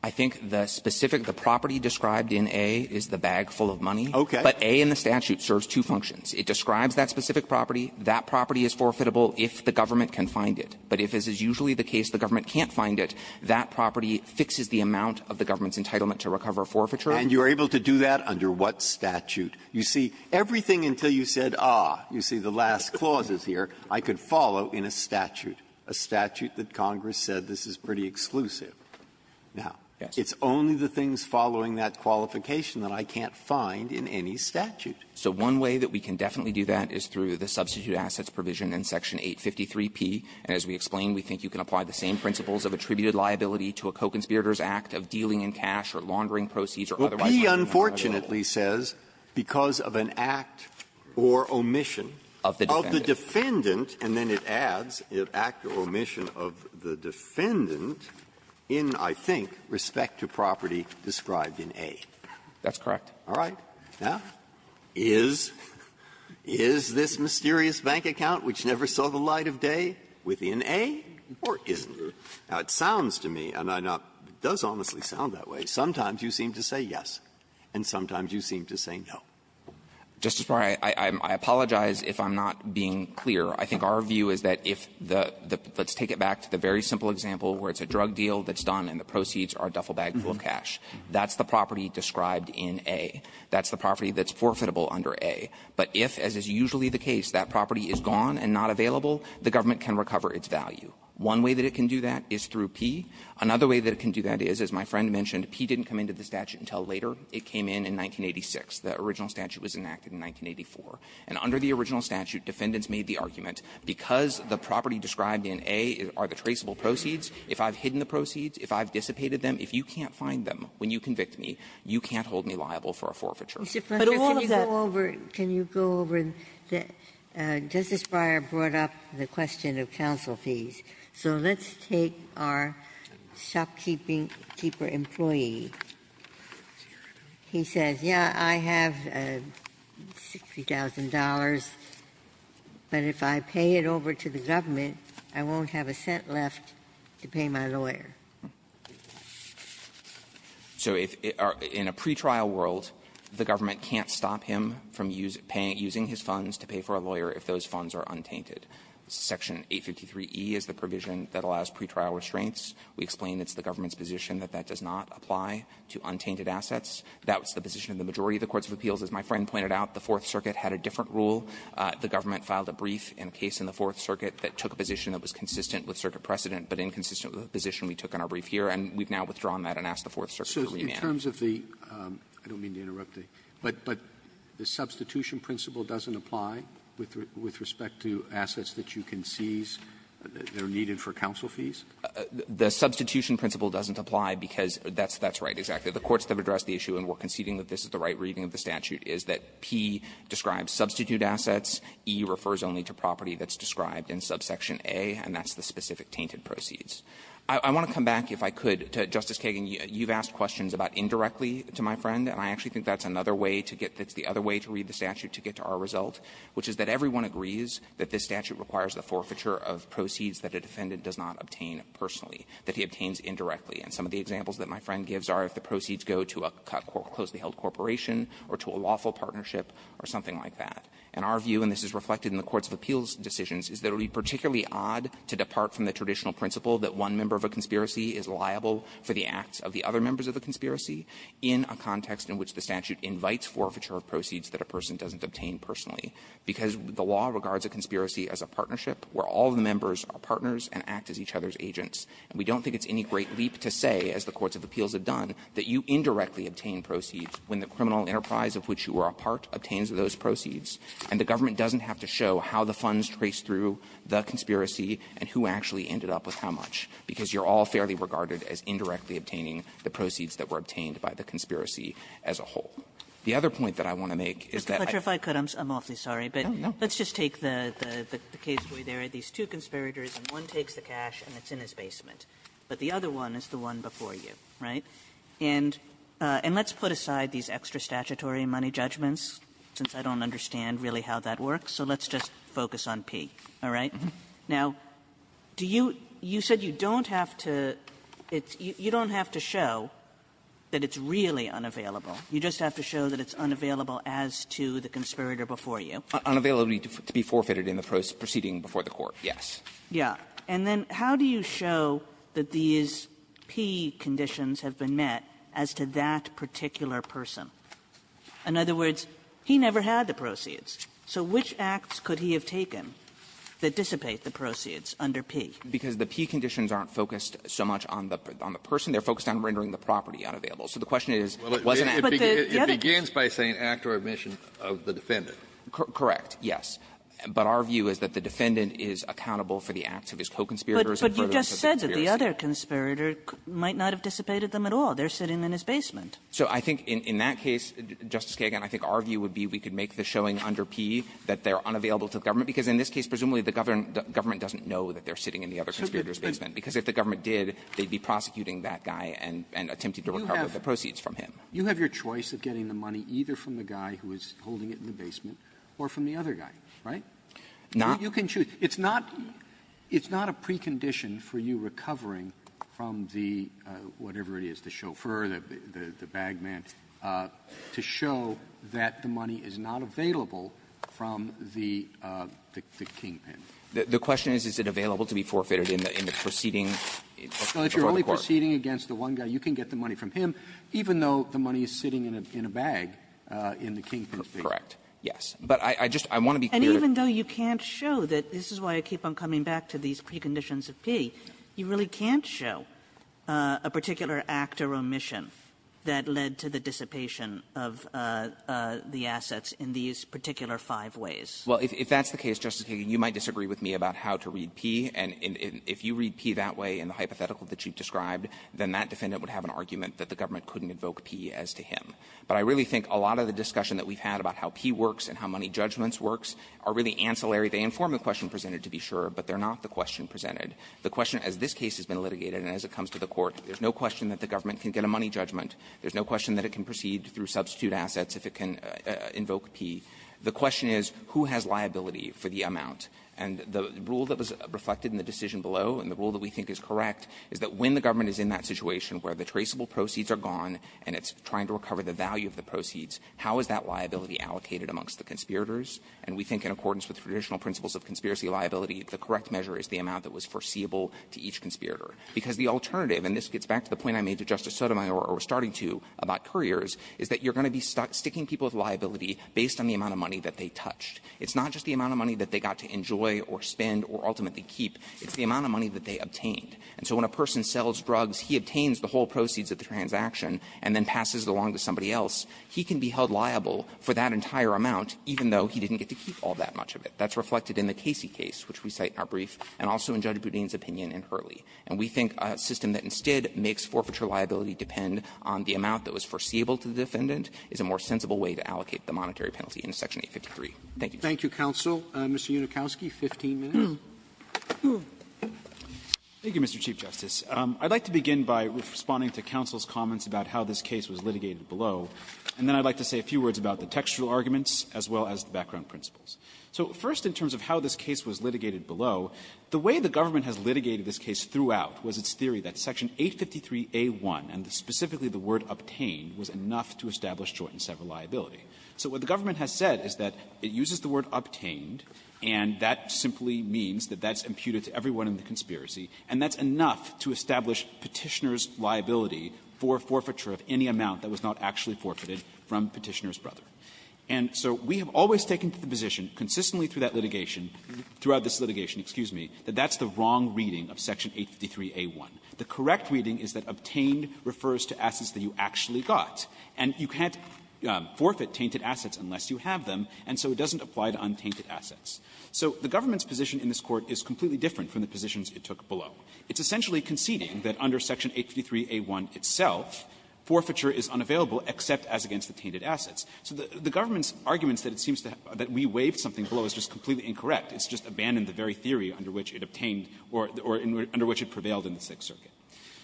I think the specific property described in A is the bag full of money. Okay. But A in the statute serves two functions. It describes that specific property. That property is forfeitable if the government can find it. But if, as is usually the case, the government can't find it, that property fixes the amount of the government's entitlement to recover forfeiture. Breyer. And you're able to do that under what statute? You see, everything until you said, ah, you see the last clauses here, I could follow in a statute, a statute that Congress said this is pretty exclusive. Now, it's only the things following that qualification that I can't find in any statute. So one way that we can definitely do that is through the substitute assets provision in Section 853p. And as we explained, we think you can apply the same principles of attributed liability to a co-conspirator's act of dealing in cash or laundering proceeds Breyer. Well, P unfortunately says because of an act or omission of the defendant. And then it adds, an act or omission of the defendant in, I think, respect to property described in A. That's correct. All right. Now, is this mysterious bank account which never saw the light of day within A, or isn't it? Now, it sounds to me, and I know it does honestly sound that way, sometimes you seem to say yes, and sometimes you seem to say no. Justice Breyer, I apologize if I'm not being clear. I think our view is that if the – let's take it back to the very simple example where it's a drug deal that's done and the proceeds are a duffel bag full of cash. That's the property described in A. That's the property that's forfeitable under A. But if, as is usually the case, that property is gone and not available, the government can recover its value. One way that it can do that is through P. Another way that it can do that is, as my friend mentioned, P didn't come into the statute until later. It came in in 1986. The original statute was enacted in 1984. And under the original statute, defendants made the argument, because the property described in A are the traceable proceeds, if I've hidden the proceeds, if I've dissipated them, if you can't find them when you convict me, you can't hold me liable for a forfeiture. Ginsburg, can you go over – can you go over – Justice Breyer brought up the question of counsel fees. So let's take our shopkeeper employee. He says, yeah, I have $60,000, but if I pay it over to the government, I won't have a cent left to pay my lawyer. So in a pretrial world, the government can't stop him from using his funds to pay for a lawyer if those funds are untainted. Section 853e is the provision that allows pretrial restraints. We explain it's the government's position that that does not apply to untainted assets. That was the position of the majority of the courts of appeals. As my friend pointed out, the Fourth Circuit had a different rule. The government filed a brief in a case in the Fourth Circuit that took a position that was consistent with circuit precedent but inconsistent with the position we took in our brief here. And we've now withdrawn that and asked the Fourth Circuit to remand. Robertson, I don't mean to interrupt you, but the substitution principle doesn't apply with respect to assets that you can seize that are needed for counsel fees? The substitution principle doesn't apply because that's right, exactly. The courts have addressed the issue, and we're conceding that this is the right reading of the statute, is that P describes substitute assets, E refers only to property that's described in subsection A, and that's the specific tainted proceeds. I want to come back, if I could, to Justice Kagan. You've asked questions about indirectly to my friend, and I actually think that's another way to get to the other way to read the statute to get to our result, which is that everyone agrees that this statute requires the forfeiture of proceeds that a defendant does not obtain personally, that he obtains indirectly. And some of the examples that my friend gives are if the proceeds go to a cut-closely held corporation or to a lawful partnership or something like that. And our view, and this is reflected in the courts of appeals decisions, is that it would be particularly odd to depart from the traditional principle that one member of a conspiracy is liable for the acts of the other members of a conspiracy in a context in which the statute invites forfeiture of proceeds that a person doesn't obtain personally, because the law regards a conspiracy as a partnership where all of the members are partners and act as each other's agents. And we don't think it's any great leap to say, as the courts of appeals have done, that you indirectly obtain proceeds when the criminal enterprise of which you are a part obtains those proceeds, and the government doesn't have to show how the funds trace through the conspiracy and who actually ended up with how much, because you're all fairly regarded as indirectly obtaining the proceeds that were obtained by the conspiracy as a whole. The other point that I want to make is that I. Mr. Fletcher, if I could, I'm awfully sorry, but let's take the caseway there. One takes the cash and it's in the basement, but the other one is the one before you, right? And let's put aside these extra statutory money judgments, since I don't understand really how that works, so let's just focus on P, all right? Now, did you You said you don't have to show that it's really unavailable. You just have to show that it's unavailable as to the conspirator before you. Unavailability to be forfeited in the proceeding before the Court, yes. Yeah. And then how do you show that these P conditions have been met as to that particular person? In other words, he never had the proceeds. So which acts could he have taken that dissipate the proceeds under P? Because the P conditions aren't focused so much on the person. They're focused on rendering the property unavailable. So the question is, was it an act? But the other case It begins by saying act or omission of the defendant. Correct. Yes. But our view is that the defendant is accountable for the acts of his co-conspirators and further conspiracy. But you just said that the other conspirator might not have dissipated them at all. They're sitting in his basement. So I think in that case, Justice Kagan, I think our view would be we could make the showing under P that they're unavailable to the government, because in this case, presumably, the government doesn't know that they're sitting in the other conspirator's basement. Because if the government did, they'd be prosecuting that guy and attempting to recover the proceeds from him. You have your choice of getting the money either from the guy who is holding it in the basement or from the other guy, right? Now, you can choose. It's not a precondition for you recovering from the whatever it is, the chauffeur, the bag man, to show that the money is not available from the kingpin. The question is, is it available to be forfeited in the proceeding before the court? No. If you're only proceeding against the one guy, you can get the money from him, even though the money is sitting in a bag in the kingpin's basement. Correct. Yes. But I just want to be clear. And even though you can't show that this is why I keep on coming back to these that led to the dissipation of the assets in these particular five ways? Well, if that's the case, Justice Kagan, you might disagree with me about how to read P. And if you read P that way in the hypothetical that you've described, then that defendant would have an argument that the government couldn't invoke P as to him. But I really think a lot of the discussion that we've had about how P works and how money judgments works are really ancillary. They inform the question presented, to be sure, but they're not the question presented. The question, as this case has been litigated and as it comes to the court, there's no question that the government can get a money judgment. There's no question that it can proceed through substitute assets if it can invoke P. The question is, who has liability for the amount? And the rule that was reflected in the decision below, and the rule that we think is correct, is that when the government is in that situation where the traceable proceeds are gone and it's trying to recover the value of the proceeds, how is that liability allocated amongst the conspirators? And we think in accordance with traditional principles of conspiracy liability, the correct measure is the amount that was foreseeable to each conspirator. Because the alternative, and this gets back to the point I made to Justice Sotomayor or was starting to about couriers, is that you're going to be sticking people with liability based on the amount of money that they touched. It's not just the amount of money that they got to enjoy or spend or ultimately keep. It's the amount of money that they obtained. And so when a person sells drugs, he obtains the whole proceeds of the transaction and then passes it along to somebody else. He can be held liable for that entire amount, even though he didn't get to keep all that much of it. That's reflected in the Casey case, which we cite in our brief, and also in Judge Boudin's opinion in Hurley. And we think a system that instead makes forfeiture liability depend on the amount that was foreseeable to the defendant is a more sensible way to allocate the monetary penalty in Section 853. Thank you. Roberts. Roberts. Thank you, counsel. Mr. Unikowsky, 15 minutes. Unikowsky. Unikowsky. Thank you, Mr. Chief Justice. I'd like to begin by responding to counsel's comments about how this case was litigated below. And then I'd like to say a few words about the textual arguments as well as the background principles. So first, in terms of how this case was litigated below, the way the government has litigated this case throughout was its theory that Section 853a1, and specifically the word obtained, was enough to establish joint and sever liability. So what the government has said is that it uses the word obtained, and that simply means that that's imputed to everyone in the conspiracy, and that's enough to establish Petitioner's liability for forfeiture of any amount that was not actually forfeited from Petitioner's brother. And so we have always taken to the position, consistently through that litigation throughout this litigation, excuse me, that that's the wrong reading of Section 853a1. The correct reading is that obtained refers to assets that you actually got. And you can't forfeit tainted assets unless you have them, and so it doesn't apply to untainted assets. So the government's position in this Court is completely different from the positions it took below. It's essentially conceding that under Section 853a1 itself, forfeiture is unavailable except as against the tainted assets. So the government's arguments that it seems that we waived something below is just completely incorrect. It's just abandoned the very theory under which it obtained or under which it prevailed in the Sixth Circuit.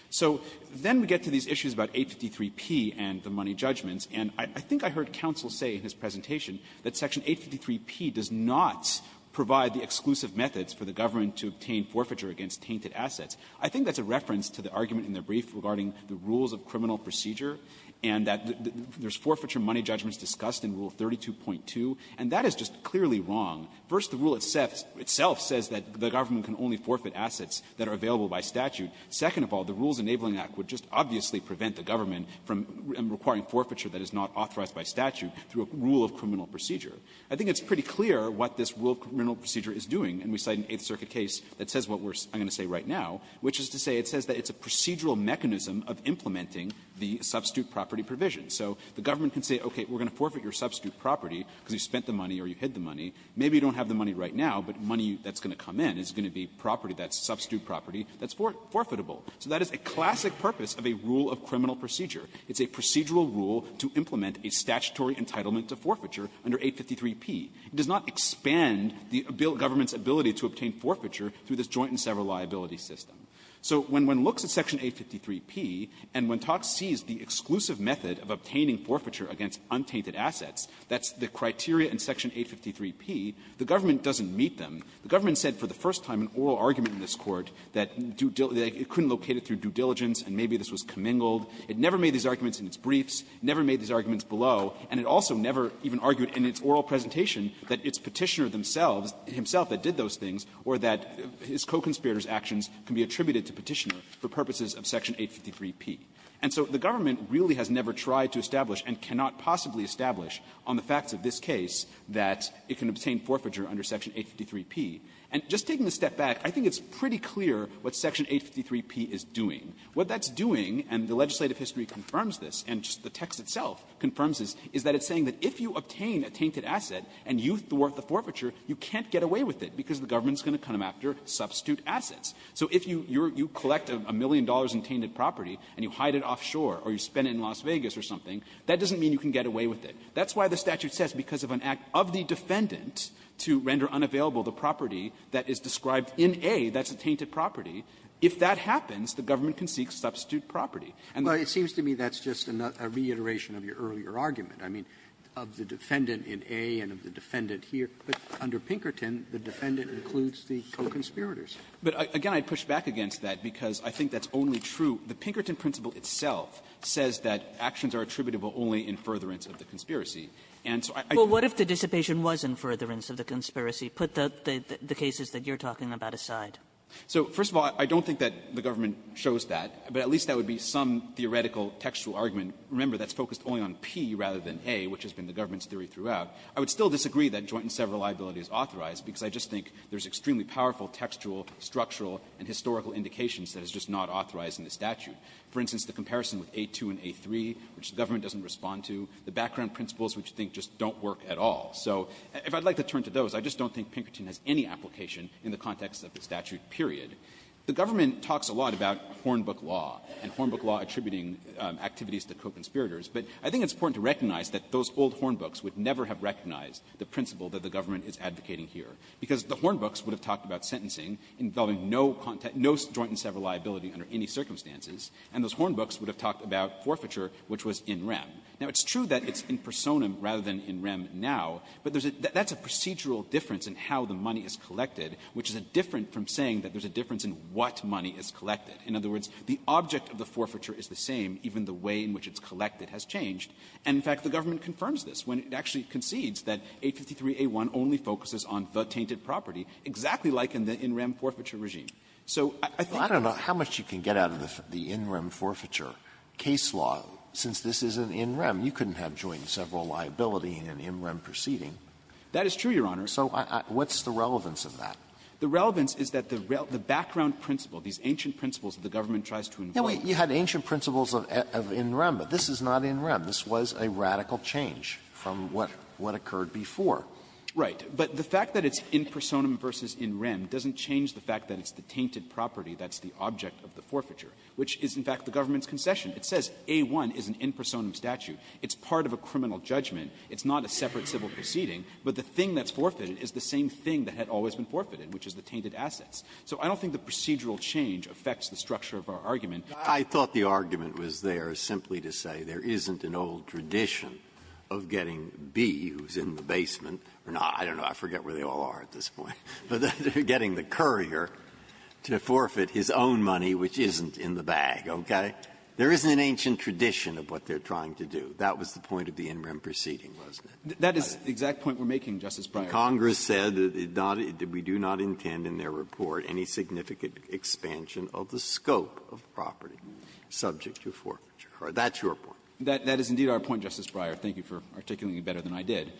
So then we get to these issues about 853p and the money judgments, and I think I heard counsel say in his presentation that Section 853p does not provide the exclusive methods for the government to obtain forfeiture against tainted assets. I think that's a reference to the argument in the brief regarding the rules of criminal procedure and that there's forfeiture money judgments discussed in Rule 32.2, and that is just clearly wrong. First, the rule itself says that the government can only forfeit assets that are available by statute. Second of all, the Rules Enabling Act would just obviously prevent the government from requiring forfeiture that is not authorized by statute through a rule of criminal procedure. I think it's pretty clear what this rule of criminal procedure is doing, and we cite an Eighth Circuit case that says what I'm going to say right now, which is to say it says that it's a procedural mechanism of implementing the substitute property provision. So the government can say, okay, we're going to forfeit your substitute property because you spent the money or you hid the money. Maybe you don't have the money right now, but money that's going to come in is going to be property that's substitute property that's forfeitable. So that is a classic purpose of a rule of criminal procedure. It's a procedural rule to implement a statutory entitlement to forfeiture under 853p. It does not expand the government's ability to obtain forfeiture through this joint and several liability system. So when one looks at Section 853p, and when TOCS sees the exclusive method of obtaining forfeiture against untainted assets, that's the criteria in Section 853p, the government doesn't meet them. The government said for the first time in oral argument in this Court that it couldn't locate it through due diligence and maybe this was commingled. It never made these arguments in its briefs, never made these arguments below, and it also never even argued in its oral presentation that its Petitioner himself that did those things or that his co-conspirator's actions can be attributed to Petitioner for purposes of Section 853p. And so the government really has never tried to establish and cannot possibly establish on the facts of this case that it can obtain forfeiture under Section 853p. And just taking a step back, I think it's pretty clear what Section 853p is doing. What that's doing, and the legislative history confirms this, and just the text itself confirms this, is that it's saying that if you obtain a tainted asset and you thwart the forfeiture, you can't get away with it because the government's going to come after substitute assets. So if you collect a million dollars in tainted property and you hide it offshore or you spend it in Las Vegas or something, that doesn't mean you can get away with it. That's why the statute says because of an act of the defendant to render unavailable the property that is described in A, that's a tainted property, if that happens, the government can seek substitute property. And the other one is that the government can seek substitute property. Robertson, it seems to me that's just a reiteration of your earlier argument. I mean, of the defendant in A and of the defendant here. But under Pinkerton, the defendant includes the co-conspirators. But, again, I'd push back against that because I think that's only true. The Pinkerton principle itself says that actions are attributable only in furtherance Kagan. Kagan. Kagan. Kagan. Kagan. Kagan. Kagan. Kagan. Kagan. Kagan. Kagan. some theoretical textual argument. Remember, that's focused only on P rather than A, which has been the government's theory throughout. I would still disagree that joint and several liabilities authorize because I just think there's extremely powerful textual, structural, and historical indications that it's just not authorized in the statute. For instance, the comparison with A2 and A3, which the government doesn't respond to, the background principles, which I think just don't work at all. So if I'd like to turn to those, I just don't think Pinkerton has any application in the context of the statute, period. The government talks a lot about Hornbook law and Hornbook law attributing activities to co-conspirators, but I think it's important to recognize that those old Hornbooks would never have recognized the principle that the government is advocating here because the Hornbooks would have talked about sentencing involving no joint and several liability under any circumstances, and those Hornbooks would have talked about forfeiture, which was in rem. Now, it's true that it's in personam rather than in rem now, but there's a – that's a procedural difference in how the money is collected, which is different from saying that there's a difference in what money is collected. In other words, the object of the forfeiture is the same, even the way in which it's collected has changed. And, in fact, the government confirms this when it actually concedes that 853a1 only focuses on the tainted property, exactly like in the in rem forfeiture regime. So I think that's the case. Alitoso, I don't know how much you can get out of the in rem forfeiture case law since this is an in rem. You couldn't have joint and several liability in an in rem proceeding. That is true, Your Honor. So what's the relevance of that? The relevance is that the background principle, these ancient principles that the government tries to involve you in. Alitoso, you had ancient principles of in rem, but this is not in rem. This was a radical change from what occurred before. Right. But the fact that it's in personam versus in rem doesn't change the fact that it's the tainted property that's the object of the forfeiture, which is, in fact, the government's concession. It says a1 is an in personam statute. It's part of a criminal judgment. It's not a separate civil proceeding. But the thing that's forfeited is the same thing that had always been forfeited, which is the tainted assets. So I don't think the procedural change affects the structure of our argument. Breyer. I thought the argument was there simply to say there isn't an old tradition of getting B, who's in the basement, or not. I don't know. I forget where they all are at this point. But they're getting the courier to forfeit his own money, which isn't in the bag. Okay? There isn't an ancient tradition of what they're trying to do. That was the point of the in rem proceeding, wasn't it? That is the exact point we're making, Justice Breyer. Congress said that it not do we do not intend in their report any significant expansion of the scope of property subject to forfeiture. That's your point. That is indeed our point, Justice Breyer. Thank you for articulating it better than I did.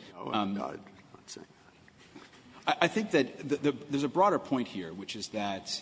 I think that there's a broader point here, which is that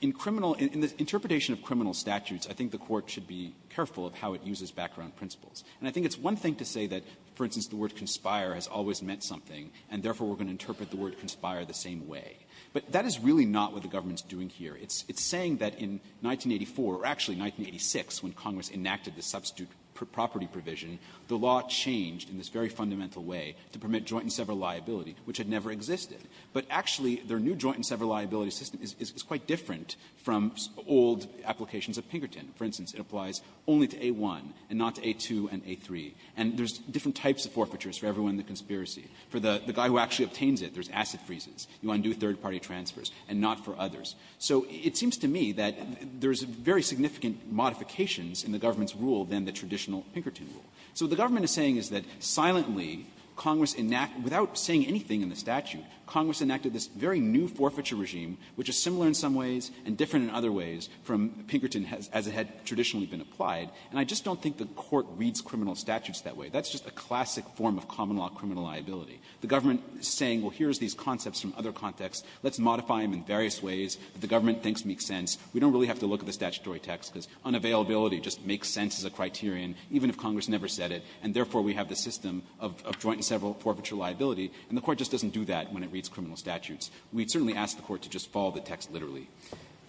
in criminal — in the interpretation of criminal statutes, I think the Court should be careful of how it uses background principles. And I think it's one thing to say that, for instance, the word conspire has always meant something, and therefore we're going to interpret the word conspire the same way. But that is really not what the government's doing here. It's saying that in 1984, or actually 1986, when Congress enacted the substitute property provision, the law changed in this very fundamental way to permit joint and several liability, which had never existed. But actually, their new joint and several liability system is quite different from old applications of Pinkerton. For instance, it applies only to A-1 and not to A-2 and A-3. And there's different types of forfeitures for everyone in the conspiracy. For the guy who actually obtains it, there's asset freezes. You undo third-party transfers, and not for others. So it seems to me that there's very significant modifications in the government's rule than the traditional Pinkerton rule. So what the government is saying is that silently, Congress enacted — without saying anything in the statute, Congress enacted this very new forfeiture regime, which is similar in some ways and different in other ways from Pinkerton as it had traditionally been applied. And I just don't think the Court reads criminal statutes that way. That's just a classic form of common-law criminal liability. The government is saying, well, here's these concepts from other contexts. Let's modify them in various ways that the government thinks make sense. We don't really have to look at the statutory text, because unavailability just makes sense as a criterion, even if Congress never said it, and therefore we have the system of joint and several forfeiture liability. And the Court just doesn't do that when it reads criminal statutes. We'd certainly ask the Court to just follow the text literally.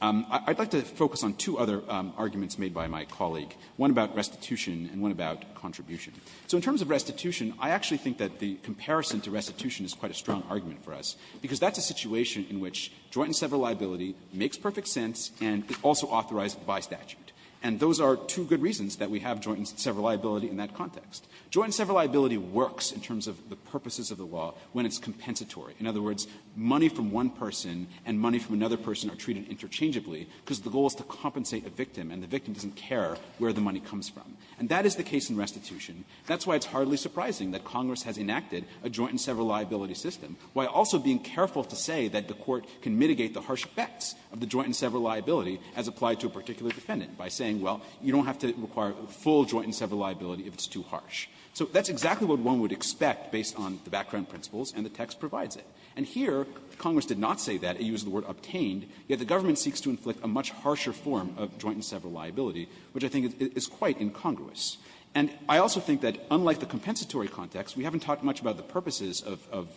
I'd like to focus on two other arguments made by my colleague, one about restitution and one about contribution. So in terms of restitution, I actually think that the comparison to restitution is quite a strong argument for us, because that's a situation in which joint and several liability makes perfect sense and is also authorized by statute. And those are two good reasons that we have joint and several liability in that context. Joint and several liability works in terms of the purposes of the law when it's compensatory. In other words, money from one person and money from another person are treated interchangeably because the goal is to compensate the victim, and the victim doesn't care where the money comes from. And that is the case in restitution. That's why it's hardly surprising that Congress has enacted a joint and several liability system, while also being careful to say that the Court can mitigate the harsh effects of the joint and several liability as applied to a particular And here, Congress did not say that. It used the word obtained. Yet the government seeks to inflict a much harsher form of joint and several liability, which I think is quite incongruous. And I also think that, unlike the compensatory context, we haven't talked much about the purposes of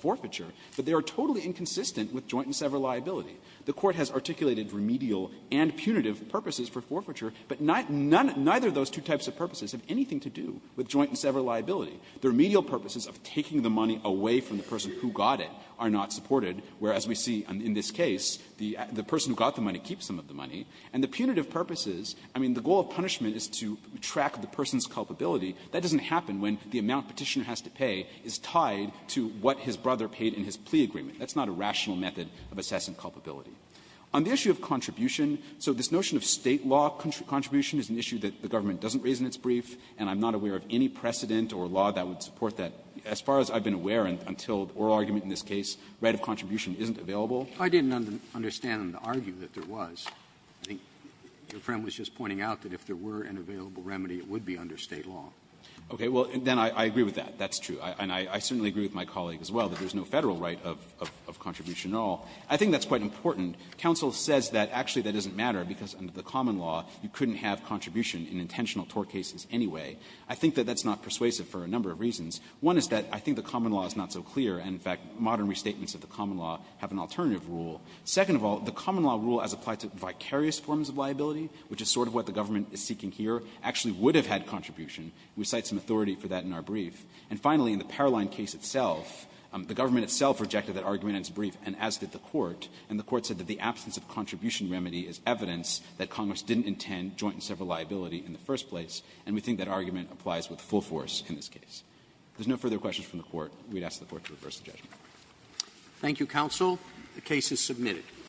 forfeiture, but they are totally inconsistent with joint and several liability. The Court has articulated remedial and punitive purposes for forfeiture, but neither of those two types of purposes have anything to do with joint and several liability. The remedial purposes of taking the money away from the person who got it are not supported, whereas we see in this case, the person who got the money keeps some of the money. And the punitive purposes, I mean, the goal of punishment is to track the person's culpability. That doesn't happen when the amount Petitioner has to pay is tied to what his brother paid in his plea agreement. That's not a rational method of assessing culpability. On the issue of contribution, so this notion of State law contribution is an issue that the government doesn't raise in its brief, and I'm not aware of any precedent or law that would support that. As far as I've been aware until the oral argument in this case, right of contribution isn't available. Robertson, I didn't understand the argue that there was. I think your friend was just pointing out that if there were an available remedy, it would be under State law. Okay. Well, then I agree with that. That's true. And I certainly agree with my colleague as well that there's no Federal right of contribution at all. I think that's quite important. Counsel says that actually that doesn't matter because under the common law, you couldn't have contribution in intentional tort cases anyway. I think that that's not persuasive for a number of reasons. One is that I think the common law is not so clear, and in fact, modern restatements of the common law have an alternative rule. Second of all, the common law rule as applied to vicarious forms of liability, which is sort of what the government is seeking here, actually would have had contribution. We cite some authority for that in our brief. And finally, in the Paroline case itself, the government itself rejected that argument in its brief, and as did the Court, and the Court said that the absence of contribution remedy is evidence that Congress didn't intend joint and several liability in the first place, and we think that argument applies with full force in this case. If there's no further questions from the Court, we'd ask the Court to reverse the judgment. Roberts. Thank you, counsel. The case is submitted.